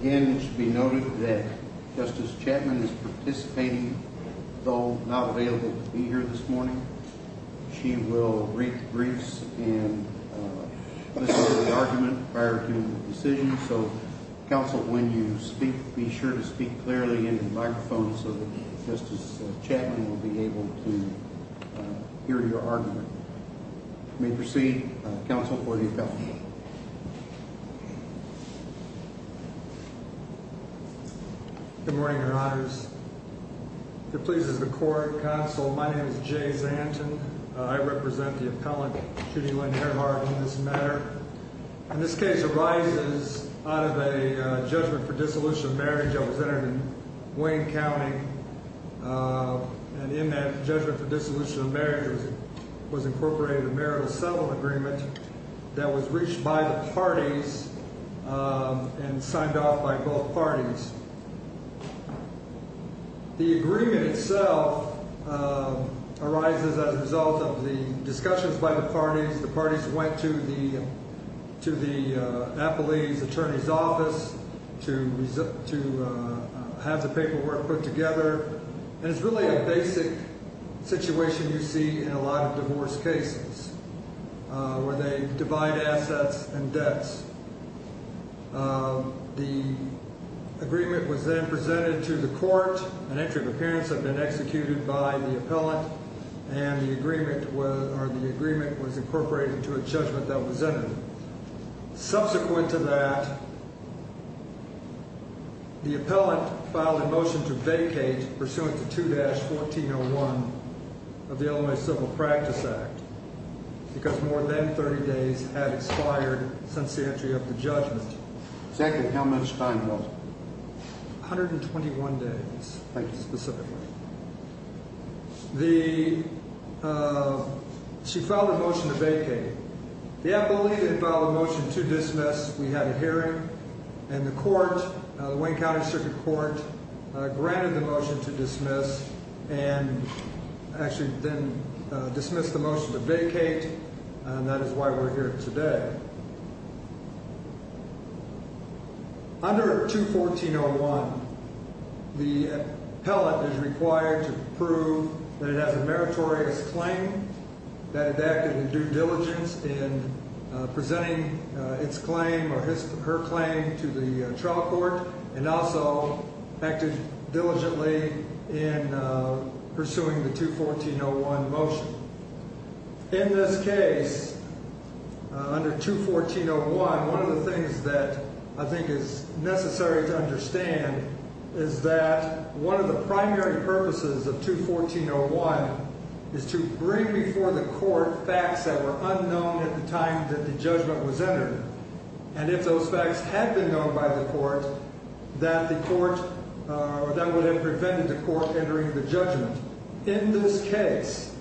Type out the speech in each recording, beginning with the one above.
Again, it should be noted that Justice Chapman is participating, though not available to be here this morning. She will read the briefs and listen to the argument prior to the decision. So, counsel, when you speak, be sure to speak clearly into the microphone so that Justice Chapman will be able to hear your argument. You may proceed, counsel, for the appeal. Good morning, Your Honors. If it pleases the court, counsel, my name is Jay Zanton. I represent the appellant, Judy Lynn Ehrhart, in this matter. And this case arises out of a judgment for dissolution of marriage that was entered in Wayne County. And in that judgment for dissolution of marriage was incorporated a marital settlement agreement that was reached by the parties and signed off by both parties. The agreement itself arises as a result of the discussions by the parties. The parties went to the appellee's attorney's office to have the paperwork put together. And it's really a basic situation you see in a lot of divorce cases, where they divide assets and debts. The agreement was then presented to the court. An entry of appearance had been executed by the appellant, and the agreement was incorporated to a judgment that was entered. Subsequent to that, the appellant filed a motion to vacate pursuant to 2-1401 of the Illinois Civil Practice Act, because more than 30 days had expired since the entry of the judgment. Second, how much time was it? 121 days, specifically. She filed a motion to vacate. The appellee then filed a motion to dismiss. We had a hearing, and the court, the Wayne County Circuit Court, granted the motion to dismiss and actually then dismissed the motion to vacate, and that is why we're here today. Under 2-1401, the appellant is required to prove that it has a meritorious claim, that it acted in due diligence in presenting its claim or her claim to the trial court, and also acted diligently in pursuing the 2-1401 motion. In this case, under 2-1401, one of the things that I think is necessary to understand is that one of the primary purposes of 2-1401 is to bring before the court facts that were unknown at the time that the judgment was entered, and if those facts had been known by the court, that would have prevented the court entering the judgment. In this case,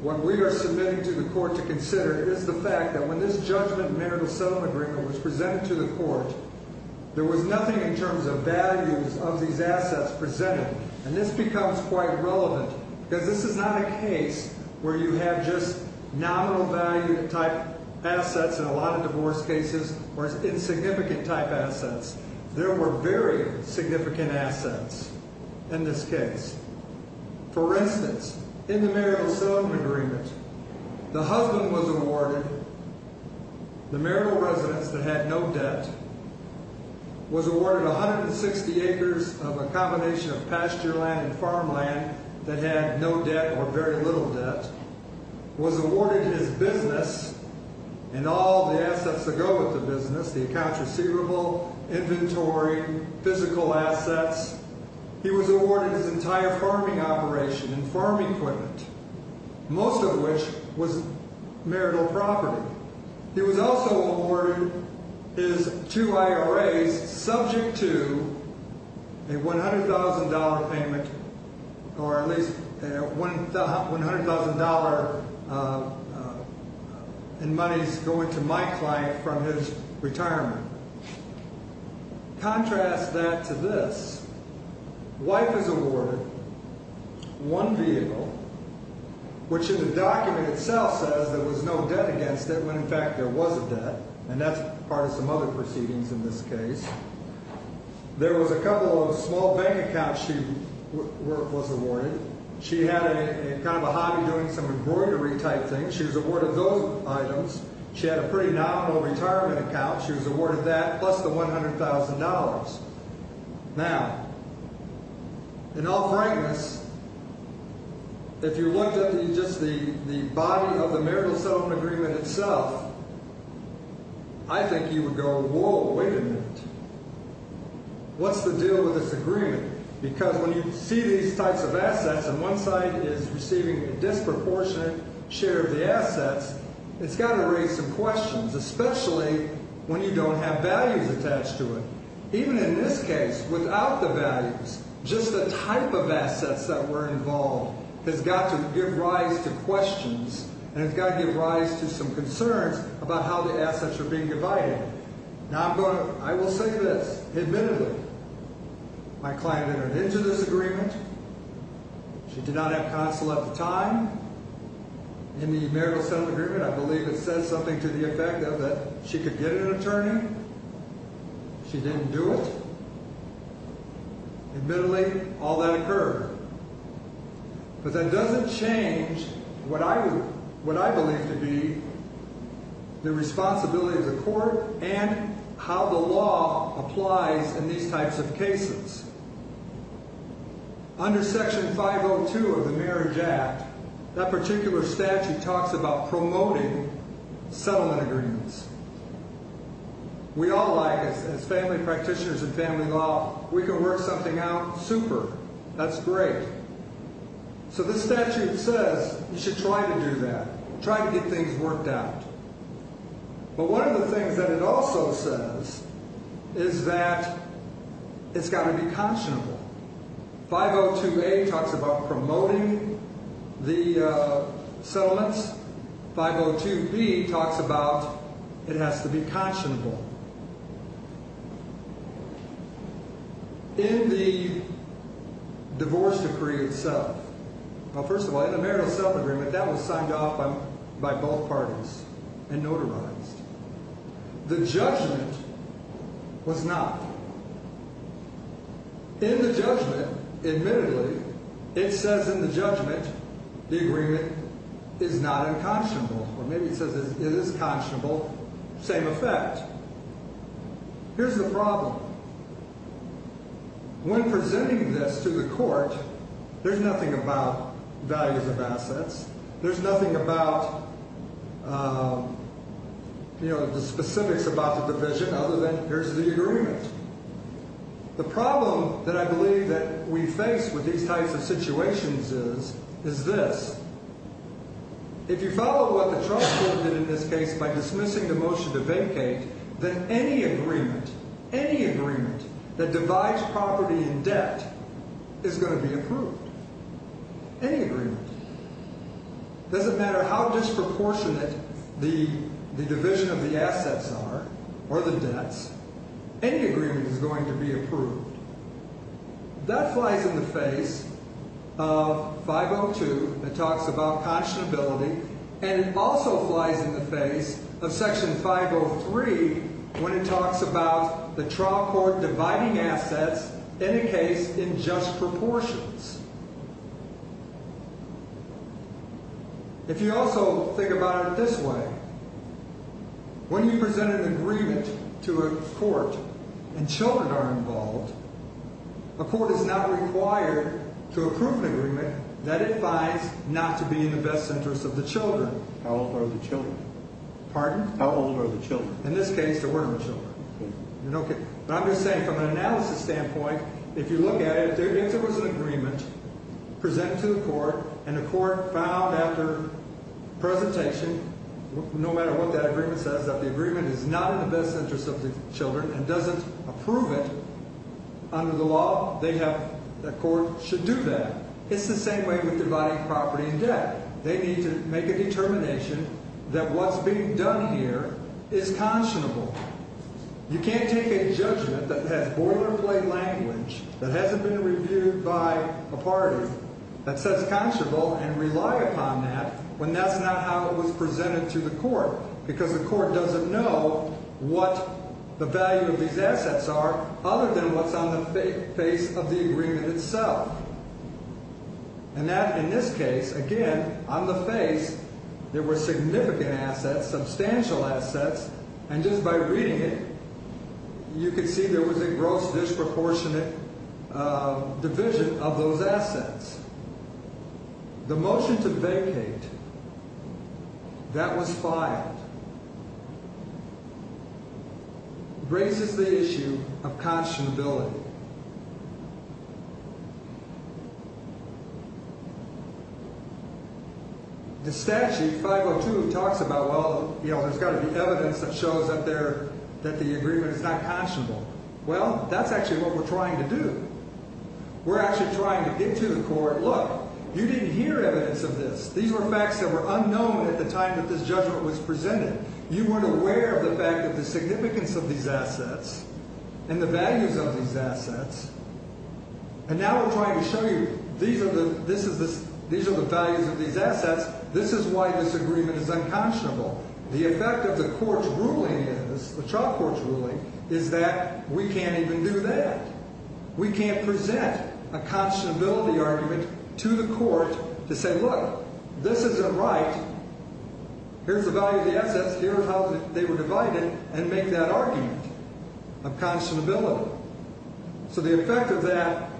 what we are submitting to the court to consider is the fact that when this judgment marital settlement agreement was presented to the court, there was nothing in terms of values of these assets presented, and this becomes quite relevant because this is not a case where you have just nominal value type assets in a lot of divorce cases or insignificant type assets. There were very significant assets in this case. For instance, in the marital settlement agreement, the husband was awarded, the marital residence that had no debt, was awarded 160 acres of a combination of pasture land and farm land that had no debt or very little debt, was awarded his business and all the assets that go with the business, the accounts receivable, inventory, physical assets. He was awarded his entire farming operation and farm equipment, most of which was marital property. He was also awarded his two IRAs subject to a $100,000 payment or at least $100,000 in monies going to my client from his retirement. Contrast that to this. Wife is awarded one vehicle, which in the document itself says there was no debt against it when in fact there was a debt, and that's part of some other proceedings in this case. There was a couple of small bank accounts she was awarded. She had a kind of a hobby doing some embroidery type things. She was awarded those items. She had a pretty nominal retirement account. She was awarded that plus the $100,000. Now, in all frankness, if you looked at just the body of the marital settlement agreement itself, I think you would go, whoa, wait a minute. What's the deal with this agreement? Because when you see these types of assets and one side is receiving a disproportionate share of the assets, it's got to raise some questions, especially when you don't have values attached to it. Even in this case, without the values, just the type of assets that were involved has got to give rise to questions and it's got to give rise to some concerns about how the assets are being divided. Now, I will say this. Admittedly, my client entered into this agreement. She did not have counsel at the time. In the marital settlement agreement, I believe it says something to the effect that she could get an attorney. She didn't do it. Admittedly, all that occurred. But that doesn't change what I believe to be the responsibility of the court and how the law applies in these types of cases. Under Section 502 of the Marriage Act, that particular statute talks about promoting settlement agreements. We all like, as family practitioners of family law, we can work something out super. That's great. So this statute says you should try to do that, try to get things worked out. But one of the things that it also says is that it's got to be conscionable. 502A talks about promoting the settlements. 502B talks about it has to be conscionable. In the divorce decree itself, well, first of all, in the marital settlement agreement, that was signed off by both parties and notarized. The judgment was not. In the judgment, admittedly, it says in the judgment the agreement is not unconscionable. Or maybe it says it is conscionable, same effect. Here's the problem. When presenting this to the court, there's nothing about values of assets. There's nothing about, you know, the specifics about the division other than here's the agreement. The problem that I believe that we face with these types of situations is, is this. If you follow what the trial court did in this case by dismissing the motion to vacate, then any agreement, any agreement that divides property and debt is going to be approved. Any agreement. It doesn't matter how disproportionate the division of the assets are or the debts. Any agreement is going to be approved. That flies in the face of 502 that talks about conscionability, and it also flies in the face of section 503 when it talks about the trial court dividing assets in a case in just proportions. If you also think about it this way, when you present an agreement to a court and children are involved, a court is not required to approve an agreement that it finds not to be in the best interest of the children. How old are the children? Pardon? How old are the children? In this case, there were no children. But I'm just saying from an analysis standpoint, if you look at it, there was an agreement presented to the court, and the court found after presentation, no matter what that agreement says, that the agreement is not in the best interest of the children and doesn't approve it under the law, the court should do that. It's the same way with dividing property and debt. They need to make a determination that what's being done here is conscionable. You can't take a judgment that has boilerplate language that hasn't been reviewed by a party that says conscionable and rely upon that when that's not how it was presented to the court because the court doesn't know what the value of these assets are other than what's on the face of the agreement itself. And that, in this case, again, on the face, there were significant assets, substantial assets, and just by reading it, you could see there was a gross disproportionate division of those assets. The motion to vacate that was filed raises the issue of conscionability. The statute 502 talks about, well, you know, there's got to be evidence that shows that the agreement is not conscionable. Well, that's actually what we're trying to do. We're actually trying to get to the court, look, you didn't hear evidence of this. These were facts that were unknown at the time that this judgment was presented. You weren't aware of the fact of the significance of these assets and the values of these assets. And now we're trying to show you these are the values of these assets. This is why this agreement is unconscionable. The effect of the court's ruling is, the trial court's ruling, is that we can't even do that. We can't present a conscionability argument to the court to say, look, this isn't right. Here's the value of the assets. Here's how they were divided, and make that argument of conscionability. So the effect of that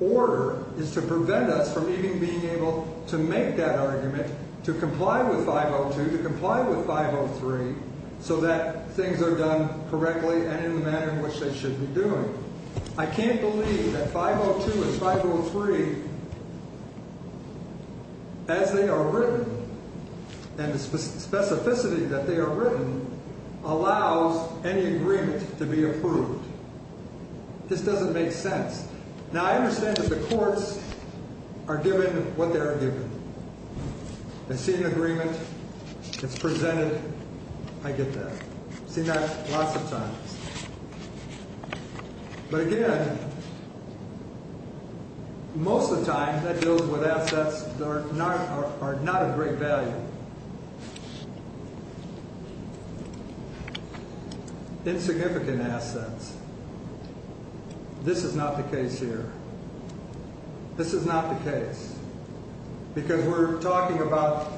order is to prevent us from even being able to make that argument, to comply with 502, to comply with 503, so that things are done correctly and in the manner in which they should be doing. I can't believe that 502 and 503, as they are written, and the specificity that they are written, allows any agreement to be approved. This doesn't make sense. Now, I understand that the courts are given what they are given. I see an agreement. It's presented. I get that. I've seen that lots of times. But again, most of the time, that deals with assets that are not of great value. Insignificant assets. This is not the case here. This is not the case. Because we're talking about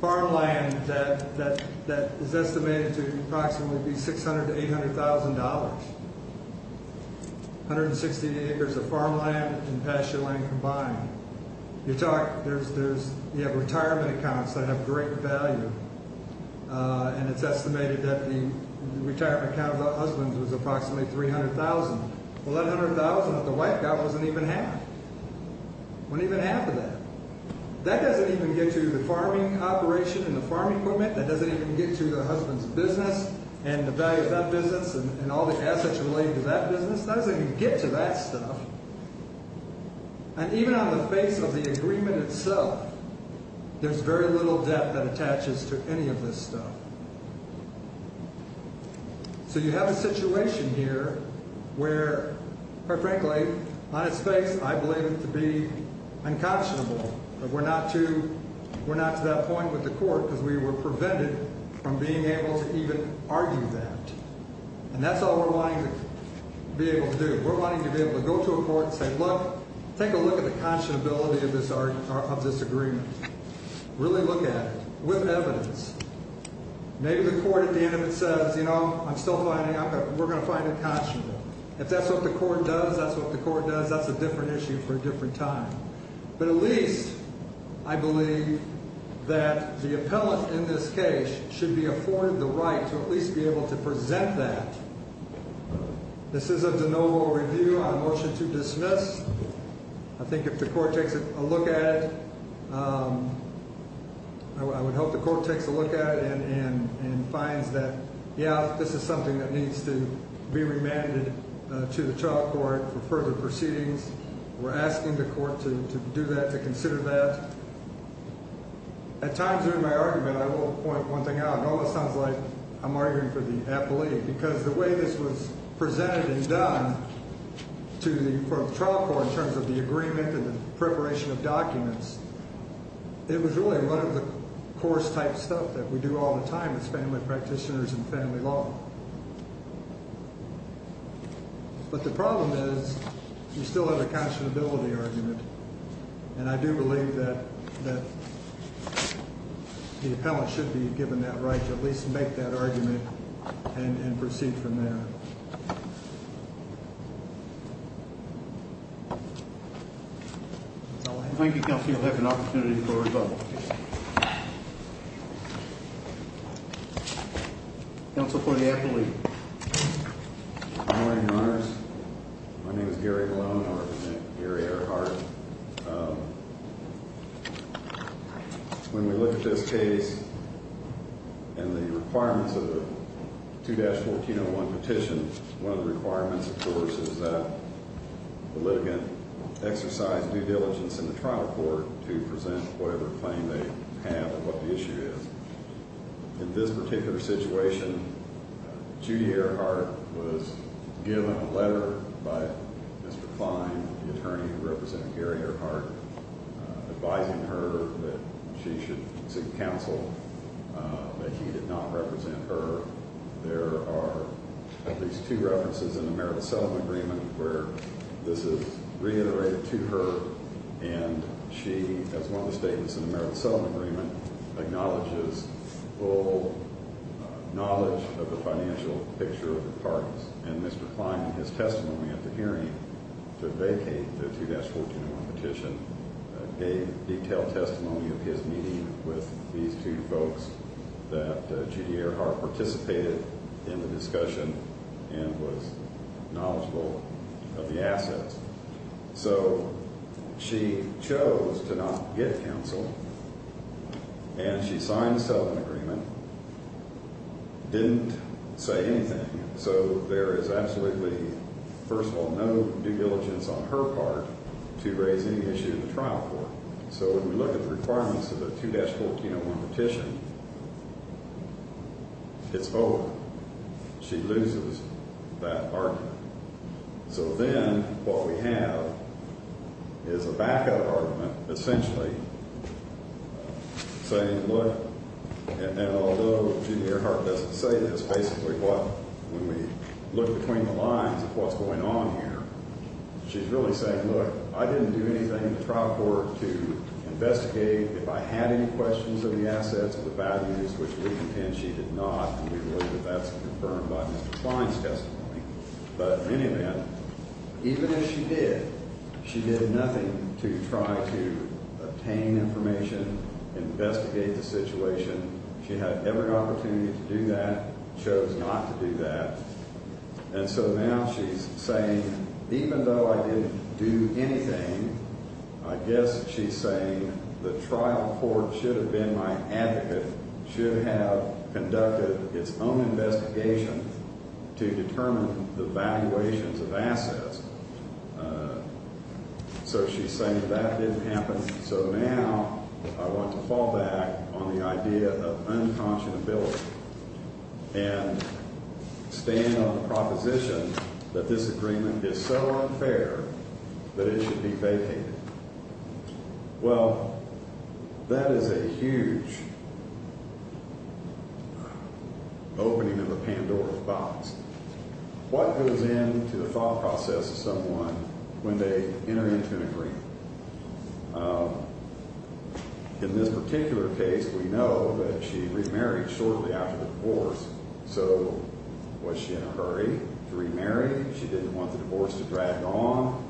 farmland that is estimated to approximately be $600,000 to $800,000. 160 acres of farmland and pastureland combined. You have retirement accounts that have great value, and it's estimated that the retirement account of the husband was approximately $300,000. Well, that $100,000 that the wife got wasn't even half. It wasn't even half of that. That doesn't even get to the farming operation and the farm equipment. That doesn't even get to the husband's business and the value of that business and all the assets related to that business. That doesn't even get to that stuff. And even on the face of the agreement itself, there's very little debt that attaches to any of this stuff. So you have a situation here where, quite frankly, on its face I believe it to be unconscionable that we're not to that point with the court because we were prevented from being able to even argue that. And that's all we're wanting to be able to do. We're wanting to be able to go to a court and say, look, take a look at the conscionability of this agreement. Really look at it with evidence. Maybe the court at the end of it says, you know, we're going to find it conscionable. If that's what the court does, that's what the court does. That's a different issue for a different time. But at least I believe that the appellant in this case should be afforded the right to at least be able to present that. This is a de novo review on motion to dismiss. I think if the court takes a look at it, I would hope the court takes a look at it and finds that, yeah, this is something that needs to be remanded to the trial court for further proceedings. We're asking the court to do that, to consider that. At times during my argument I will point one thing out. It almost sounds like I'm arguing for the appellate. Because the way this was presented and done for the trial court in terms of the agreement and the preparation of documents, it was really one of the course-type stuff that we do all the time as family practitioners and family law. But the problem is you still have a conscionability argument. And I do believe that the appellant should be given that right to at least make that argument and proceed from there. Thank you, counsel. You'll have an opportunity for a rebuttal. Counsel for the appellate. Good morning, Your Honors. My name is Gary Lone. I represent Gary Earhart. When we look at this case and the requirements of the 2-1401 petition, one of the requirements, of course, is that the litigant exercise due diligence in the trial court to present whatever claim they have and what the issue is. In this particular situation, Judy Earhart was given a letter by Mr. Klein, the attorney who represented Gary Earhart, advising her that she should seek counsel, but he did not represent her. There are at least two references in the Merit Settlement Agreement where this is reiterated to her, and she, as one of the statements in the Merit Settlement Agreement, acknowledges full knowledge of the financial picture of the parties. And Mr. Klein, in his testimony at the hearing to vacate the 2-1401 petition, gave detailed testimony of his meeting with these two folks that Judy Earhart participated in the discussion and was knowledgeable of the assets. So she chose to not get counsel, and she signed the settlement agreement, didn't say anything. So there is absolutely, first of all, no due diligence on her part to raise any issue in the trial court. So when we look at the requirements of the 2-1401 petition, it's over. She loses that argument. So then what we have is a back-up argument, essentially, saying, look, and although Judy Earhart doesn't say this, basically what, when we look between the lines of what's going on here, she's really saying, look, I didn't do anything in the trial court to investigate if I had any questions of the assets or the values, which we contend she did not, and we believe that that's confirmed by Mr. Klein's testimony. But in any event, even if she did, she did nothing to try to obtain information, investigate the situation. She had every opportunity to do that, chose not to do that. And so now she's saying, even though I didn't do anything, I guess she's saying the trial court should have been my advocate, should have conducted its own investigation to determine the valuations of assets. So she's saying that that didn't happen, so now I want to fall back on the idea of unconscionability and stand on the proposition that this agreement is so unfair that it should be vacated. Well, that is a huge opening of the Pandora's box. What goes into the file process of someone when they enter into an agreement? In this particular case, we know that she remarried shortly after the divorce, so was she in a hurry to remarry? She didn't want the divorce to drag on.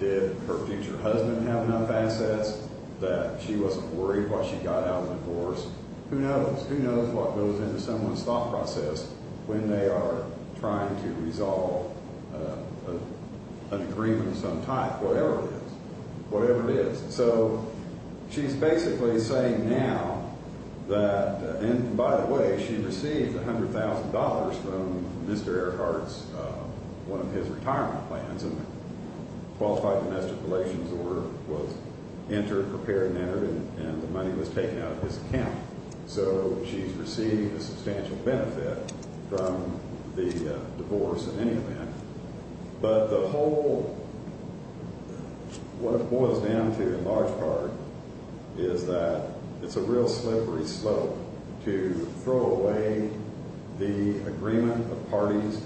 Did her future husband have enough assets that she wasn't worried while she got out of the divorce? Who knows? Who knows what goes into someone's thought process when they are trying to resolve an agreement of some type, whatever it is, whatever it is. So she's basically saying now that, and by the way, she received $100,000 from Mr. Earhart's, one of his retirement plans, and a qualified domestic relations order was entered, prepared and entered, and the money was taken out of his account. So she's received a substantial benefit from the divorce in any event. But the whole, what it boils down to in large part is that it's a real slippery slope to throw away the agreement of parties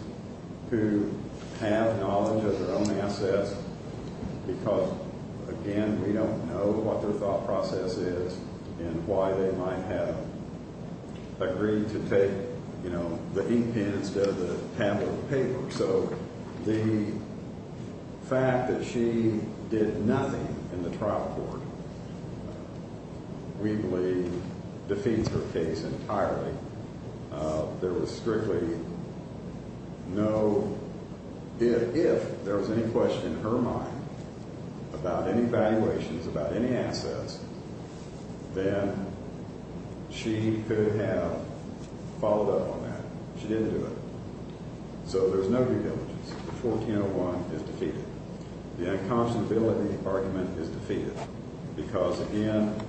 who have knowledge of their own assets because, again, we don't know what their thought process is and why they might have agreed to take, you know, the heat pen instead of the tabled paper. The fact that she did nothing in the trial court, we believe, defeats her case entirely. There was strictly no, if there was any question in her mind about any valuations, about any assets, then she could have followed up on that. She didn't do it. So there's no due diligence. The 1401 is defeated. The unconscionability argument is defeated because, again,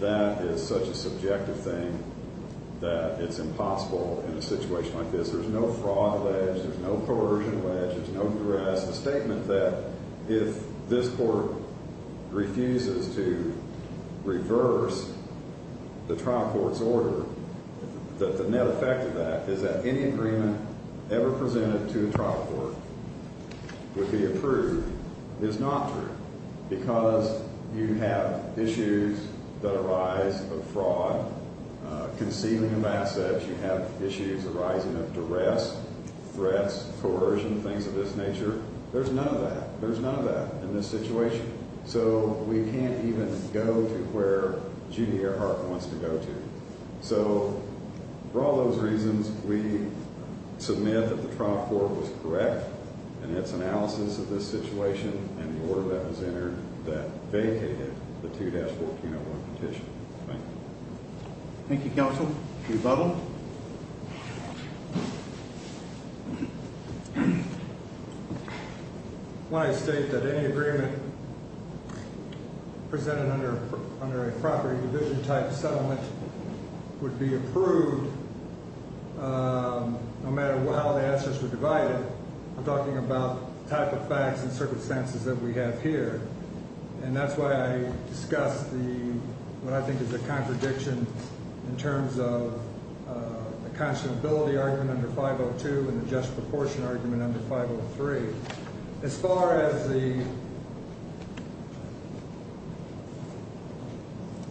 that is such a subjective thing that it's impossible in a situation like this. The net effect of that is that any agreement ever presented to a trial court would be approved is not true because you have issues that arise of fraud, concealing of assets. You have issues arising of duress, threats, coercion, things of this nature. There's none of that. There's none of that in this situation. So we can't even go to where Judy Earhart wants to go to. So for all those reasons, we submit that the trial court was correct in its analysis of this situation and the order that was entered that vacated the 2-1401 petition. Thank you. Thank you, Counsel. Mr. Butler? When I state that any agreement presented under a property division type settlement would be approved, no matter how the answers were divided, I'm talking about the type of facts and circumstances that we have here. And that's why I discussed what I think is a contradiction in terms of the unconscionability argument under 502 and the just proportion argument under 503. As far as the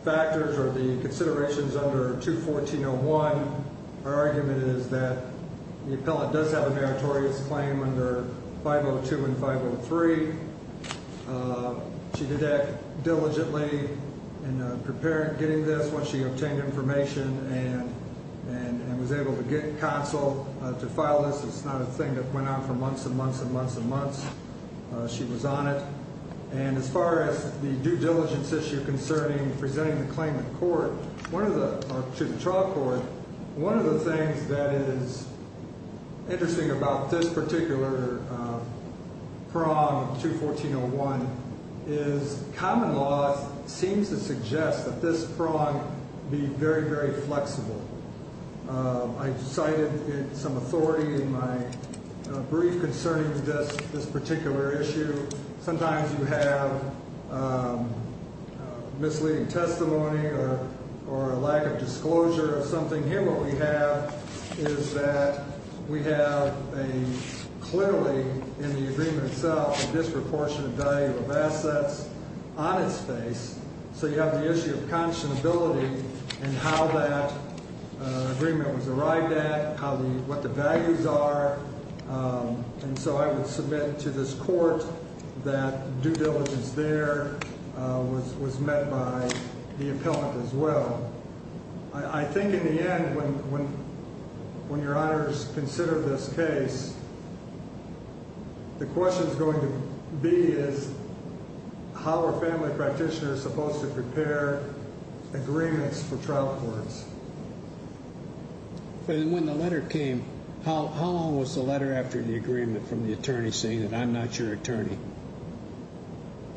factors or the considerations under 2-1401, our argument is that the appellant does have a meritorious claim under 502 and 503. She did act diligently in getting this once she obtained information and was able to get counsel to file this. It's not a thing that went on for months and months and months and months. She was on it. And as far as the due diligence issue concerning presenting the claim to the trial court, one of the things that is interesting about this particular prong of 2-1401 is common law seems to suggest that this prong be very, very flexible. I cited some authority in my brief concerning this particular issue. Sometimes you have misleading testimony or a lack of disclosure of something. Here what we have is that we have clearly in the agreement itself a disproportionate value of assets on its face. So you have the issue of conscionability and how that agreement was arrived at, what the values are. And so I would submit to this court that due diligence there was met by the appellant as well. I think in the end when your honors consider this case, the question is going to be is how are family practitioners supposed to prepare agreements for trial courts? When the letter came, how long was the letter after the agreement from the attorney saying that I'm not your attorney?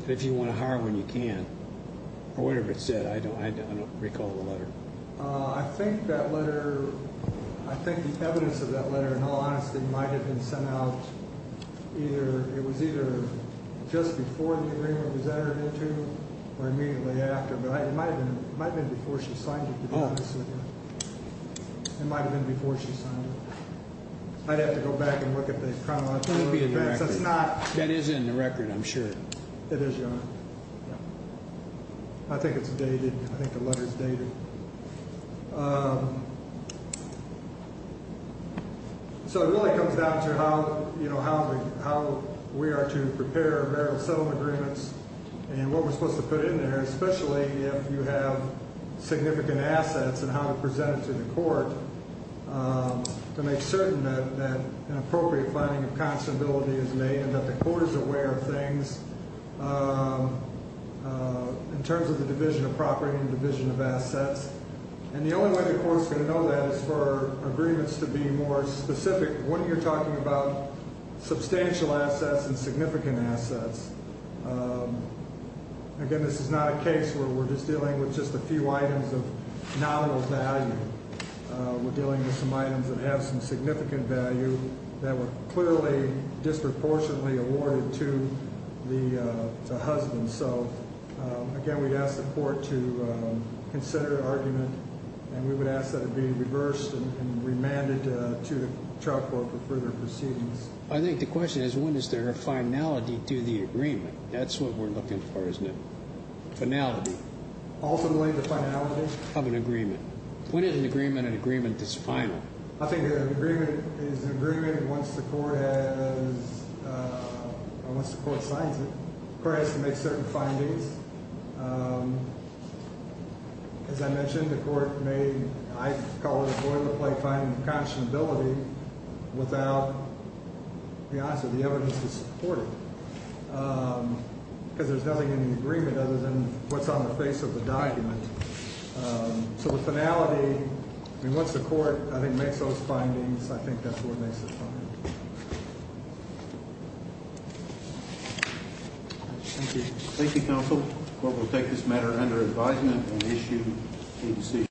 If you want to hire one, you can. Or whatever it said, I don't recall the letter. I think that letter, I think the evidence of that letter in all honesty might have been sent out either, it was either just before the agreement was entered into or immediately after. It might have been before she signed it. It might have been before she signed it. I'd have to go back and look at the criminal record. That is in the record, I'm sure. It is, your honor. I think it's dated. I think the letter is dated. So it really comes down to how we are to prepare marital settlement agreements and what we're supposed to put in there, especially if you have significant assets and how to present it to the court to make certain that an appropriate finding of constability is made and that the court is aware of things in terms of the division of property and the division of assets. And the only way the court is going to know that is for agreements to be more specific when you're talking about substantial assets and significant assets. Again, this is not a case where we're just dealing with just a few items of nominal value. We're dealing with some items that have some significant value that were clearly disproportionately awarded to the husband. So, again, we'd ask the court to consider an argument, and we would ask that it be reversed and remanded to the trial court for further proceedings. I think the question is, when is there a finality to the agreement? That's what we're looking for, isn't it? Finality. Ultimately, the finality. Of an agreement. When is an agreement an agreement that's final? I think an agreement is an agreement once the court has, or once the court signs it. The court has to make certain findings. As I mentioned, the court may, I call it a boilerplate finding of constability without, to be honest with you, the evidence to support it. Because there's nothing in the agreement other than what's on the face of the document. So the finality, I mean, once the court, I think, makes those findings, I think that's where it makes the final. Thank you. Thank you, counsel. The court will take this matter under advisement and issue a decision.